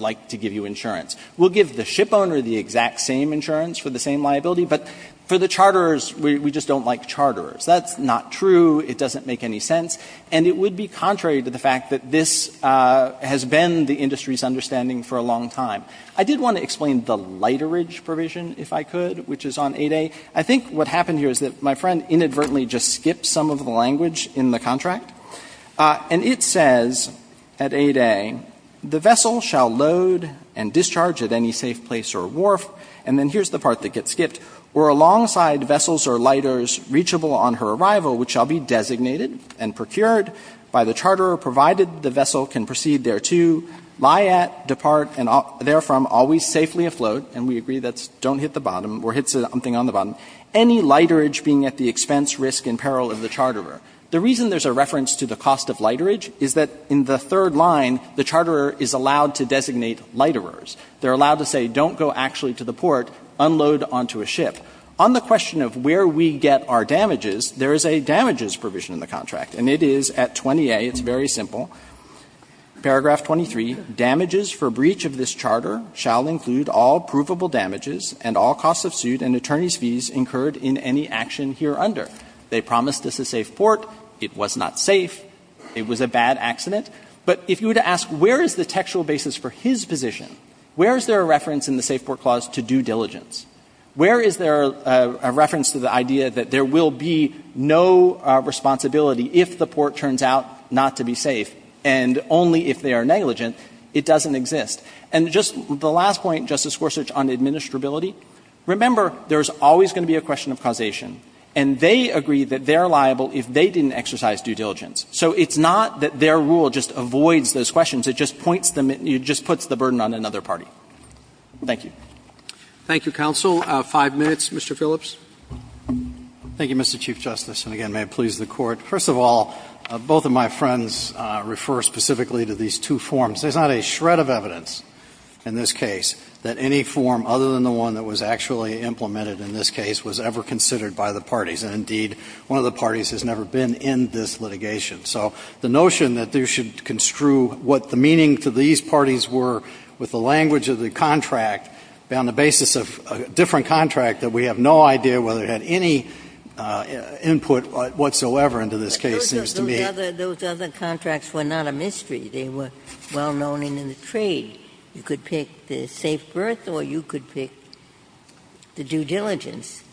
like to give you insurance. We'll give the ship owner the exact same insurance for the same liability, but for the charterers, we just don't like charterers. That's not true. It doesn't make any sense. And it would be contrary to the fact that this has been the industry's understanding for a long time. I did want to explain the literage provision, if I could, which is on 8A. I think what happened here is that my friend inadvertently just skipped some of the language in the contract. And it says at 8A, The vessel shall load and discharge at any safe place or wharf. And then here's the part that gets skipped. Where alongside vessels or liters reachable on her arrival, which shall be designated and procured by the charterer, provided the vessel can proceed thereto, lie at, depart, and therefrom always safely afloat. And we agree that's don't hit the bottom or hit something on the bottom. Any literage being at the expense, risk, and peril of the charterer. The reason there's a reference to the cost of literage is that in the third line, the charterer is allowed to designate literers. They're allowed to say don't go actually to the port, unload onto a ship. On the question of where we get our damages, there is a damages provision in the contract. And it is at 20A. It's very simple. Paragraph 23, damages for breach of this charter shall include all provable damages and all costs of suit and attorney's fees incurred in any action here under. They promised us a safe port. It was not safe. It was a bad accident. But if you were to ask where is the textual basis for his position, where is there a reference in the Safe Port Clause to due diligence? Where is there a reference to the idea that there will be no responsibility if the port turns out not to be safe and only if they are negligent? It doesn't exist. And just the last point, Justice Gorsuch, on administrability, remember there's always going to be a question of causation. And they agree that they're liable if they didn't exercise due diligence. So it's not that their rule just avoids those questions. It just points them at you, just puts the burden on another party. Thank you. Roberts. Thank you, counsel. Five minutes, Mr. Phillips. Phillips. Thank you, Mr. Chief Justice. And again, may it please the Court. First of all, both of my friends refer specifically to these two forms. There's not a shred of evidence in this case that any form other than the one that was actually implemented in this case was ever considered by the parties. And indeed, one of the parties has never been in this litigation. So the notion that you should construe what the meaning to these parties were with the language of the contract on the basis of a different contract that we have no idea whether it had any input whatsoever into this case seems to me. Those other contracts were not a mystery. They were well known in the trade. You could pick the safe berth or you could pick the due diligence.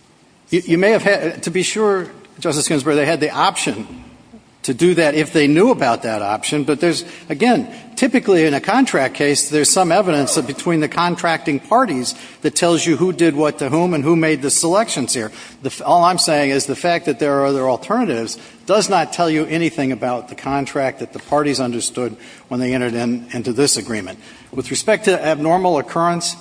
You may have had to be sure, Justice Ginsburg, they had the option to do that if they knew about that option. But there's, again, typically in a contract case, there's some evidence that between the contracting parties that tells you who did what to whom and who made the selections here. All I'm saying is the fact that there are other alternatives does not tell you anything about the contract that the parties understood when they entered into this agreement. With respect to abnormal occurrence,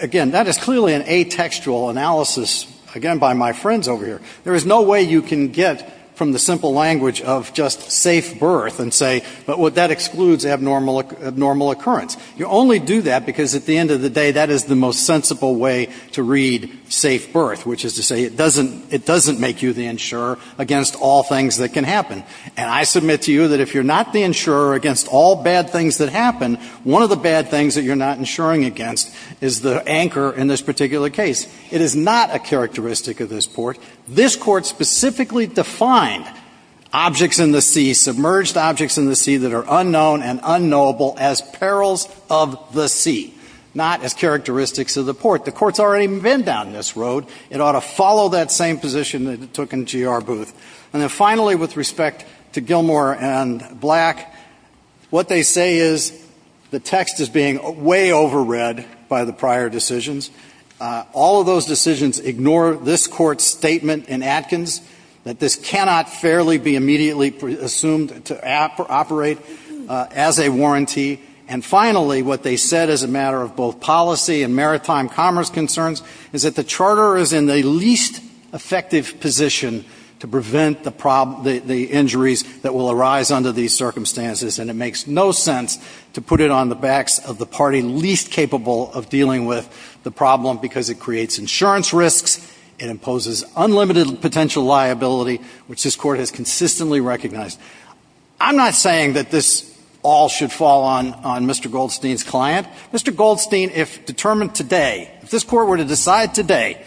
again, that is clearly an atextual analysis, again, by my friends over here. There is no way you can get from the simple language of just safe berth and say, but that excludes abnormal occurrence. You only do that because at the end of the day, that is the most sensible way to read safe berth, which is to say it doesn't make you the insurer against all things that can happen. And I submit to you that if you're not the insurer against all bad things that happen, one of the bad things that you're not insuring against is the anchor in this particular case. It is not a characteristic of this Court. This Court specifically defined objects in the sea, submerged objects in the sea that are unknown and unknowable as perils of the sea, not as characteristics of the port. The Court's already been down this road. It ought to follow that same position that it took in GR Booth. And then finally, with respect to Gilmore and Black, what they say is the text is being way overread by the prior decisions. All of those decisions ignore this Court's statement in Atkins that this cannot fairly be immediately assumed to operate as a warranty. And finally, what they said as a matter of both policy and maritime commerce concerns is that the Charter is in the least effective position to prevent the injuries that will arise under these circumstances. And it makes no sense to put it on the backs of the party least capable of dealing with the problem because it creates insurance risks, it imposes unlimited potential liability, which this Court has consistently recognized. I'm not saying that this all should fall on Mr. Goldstein's client. Mr. Goldstein, if determined today, if this Court were to decide today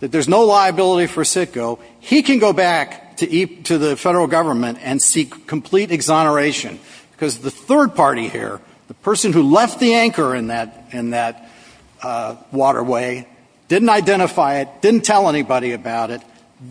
that there's no liability for CITGO, he can go back to the federal government and seek complete exoneration because the third party here, the person who left the party least capable of dealing with the problem,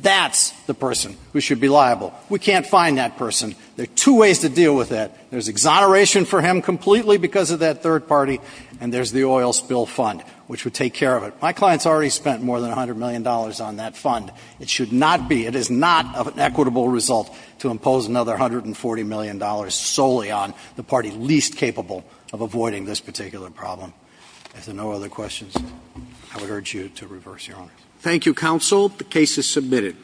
that's the person who should be liable. We can't find that person. There are two ways to deal with that. There's exoneration for him completely because of that third party, and there's the oil spill fund, which would take care of it. My client's already spent more than $100 million on that fund. It should not be, it is not an equitable result to impose another $140 million solely on the party least capable of avoiding this particular problem. If there are no other questions, I would urge you to reverse your honors. Thank you, Counsel. The case is submitted.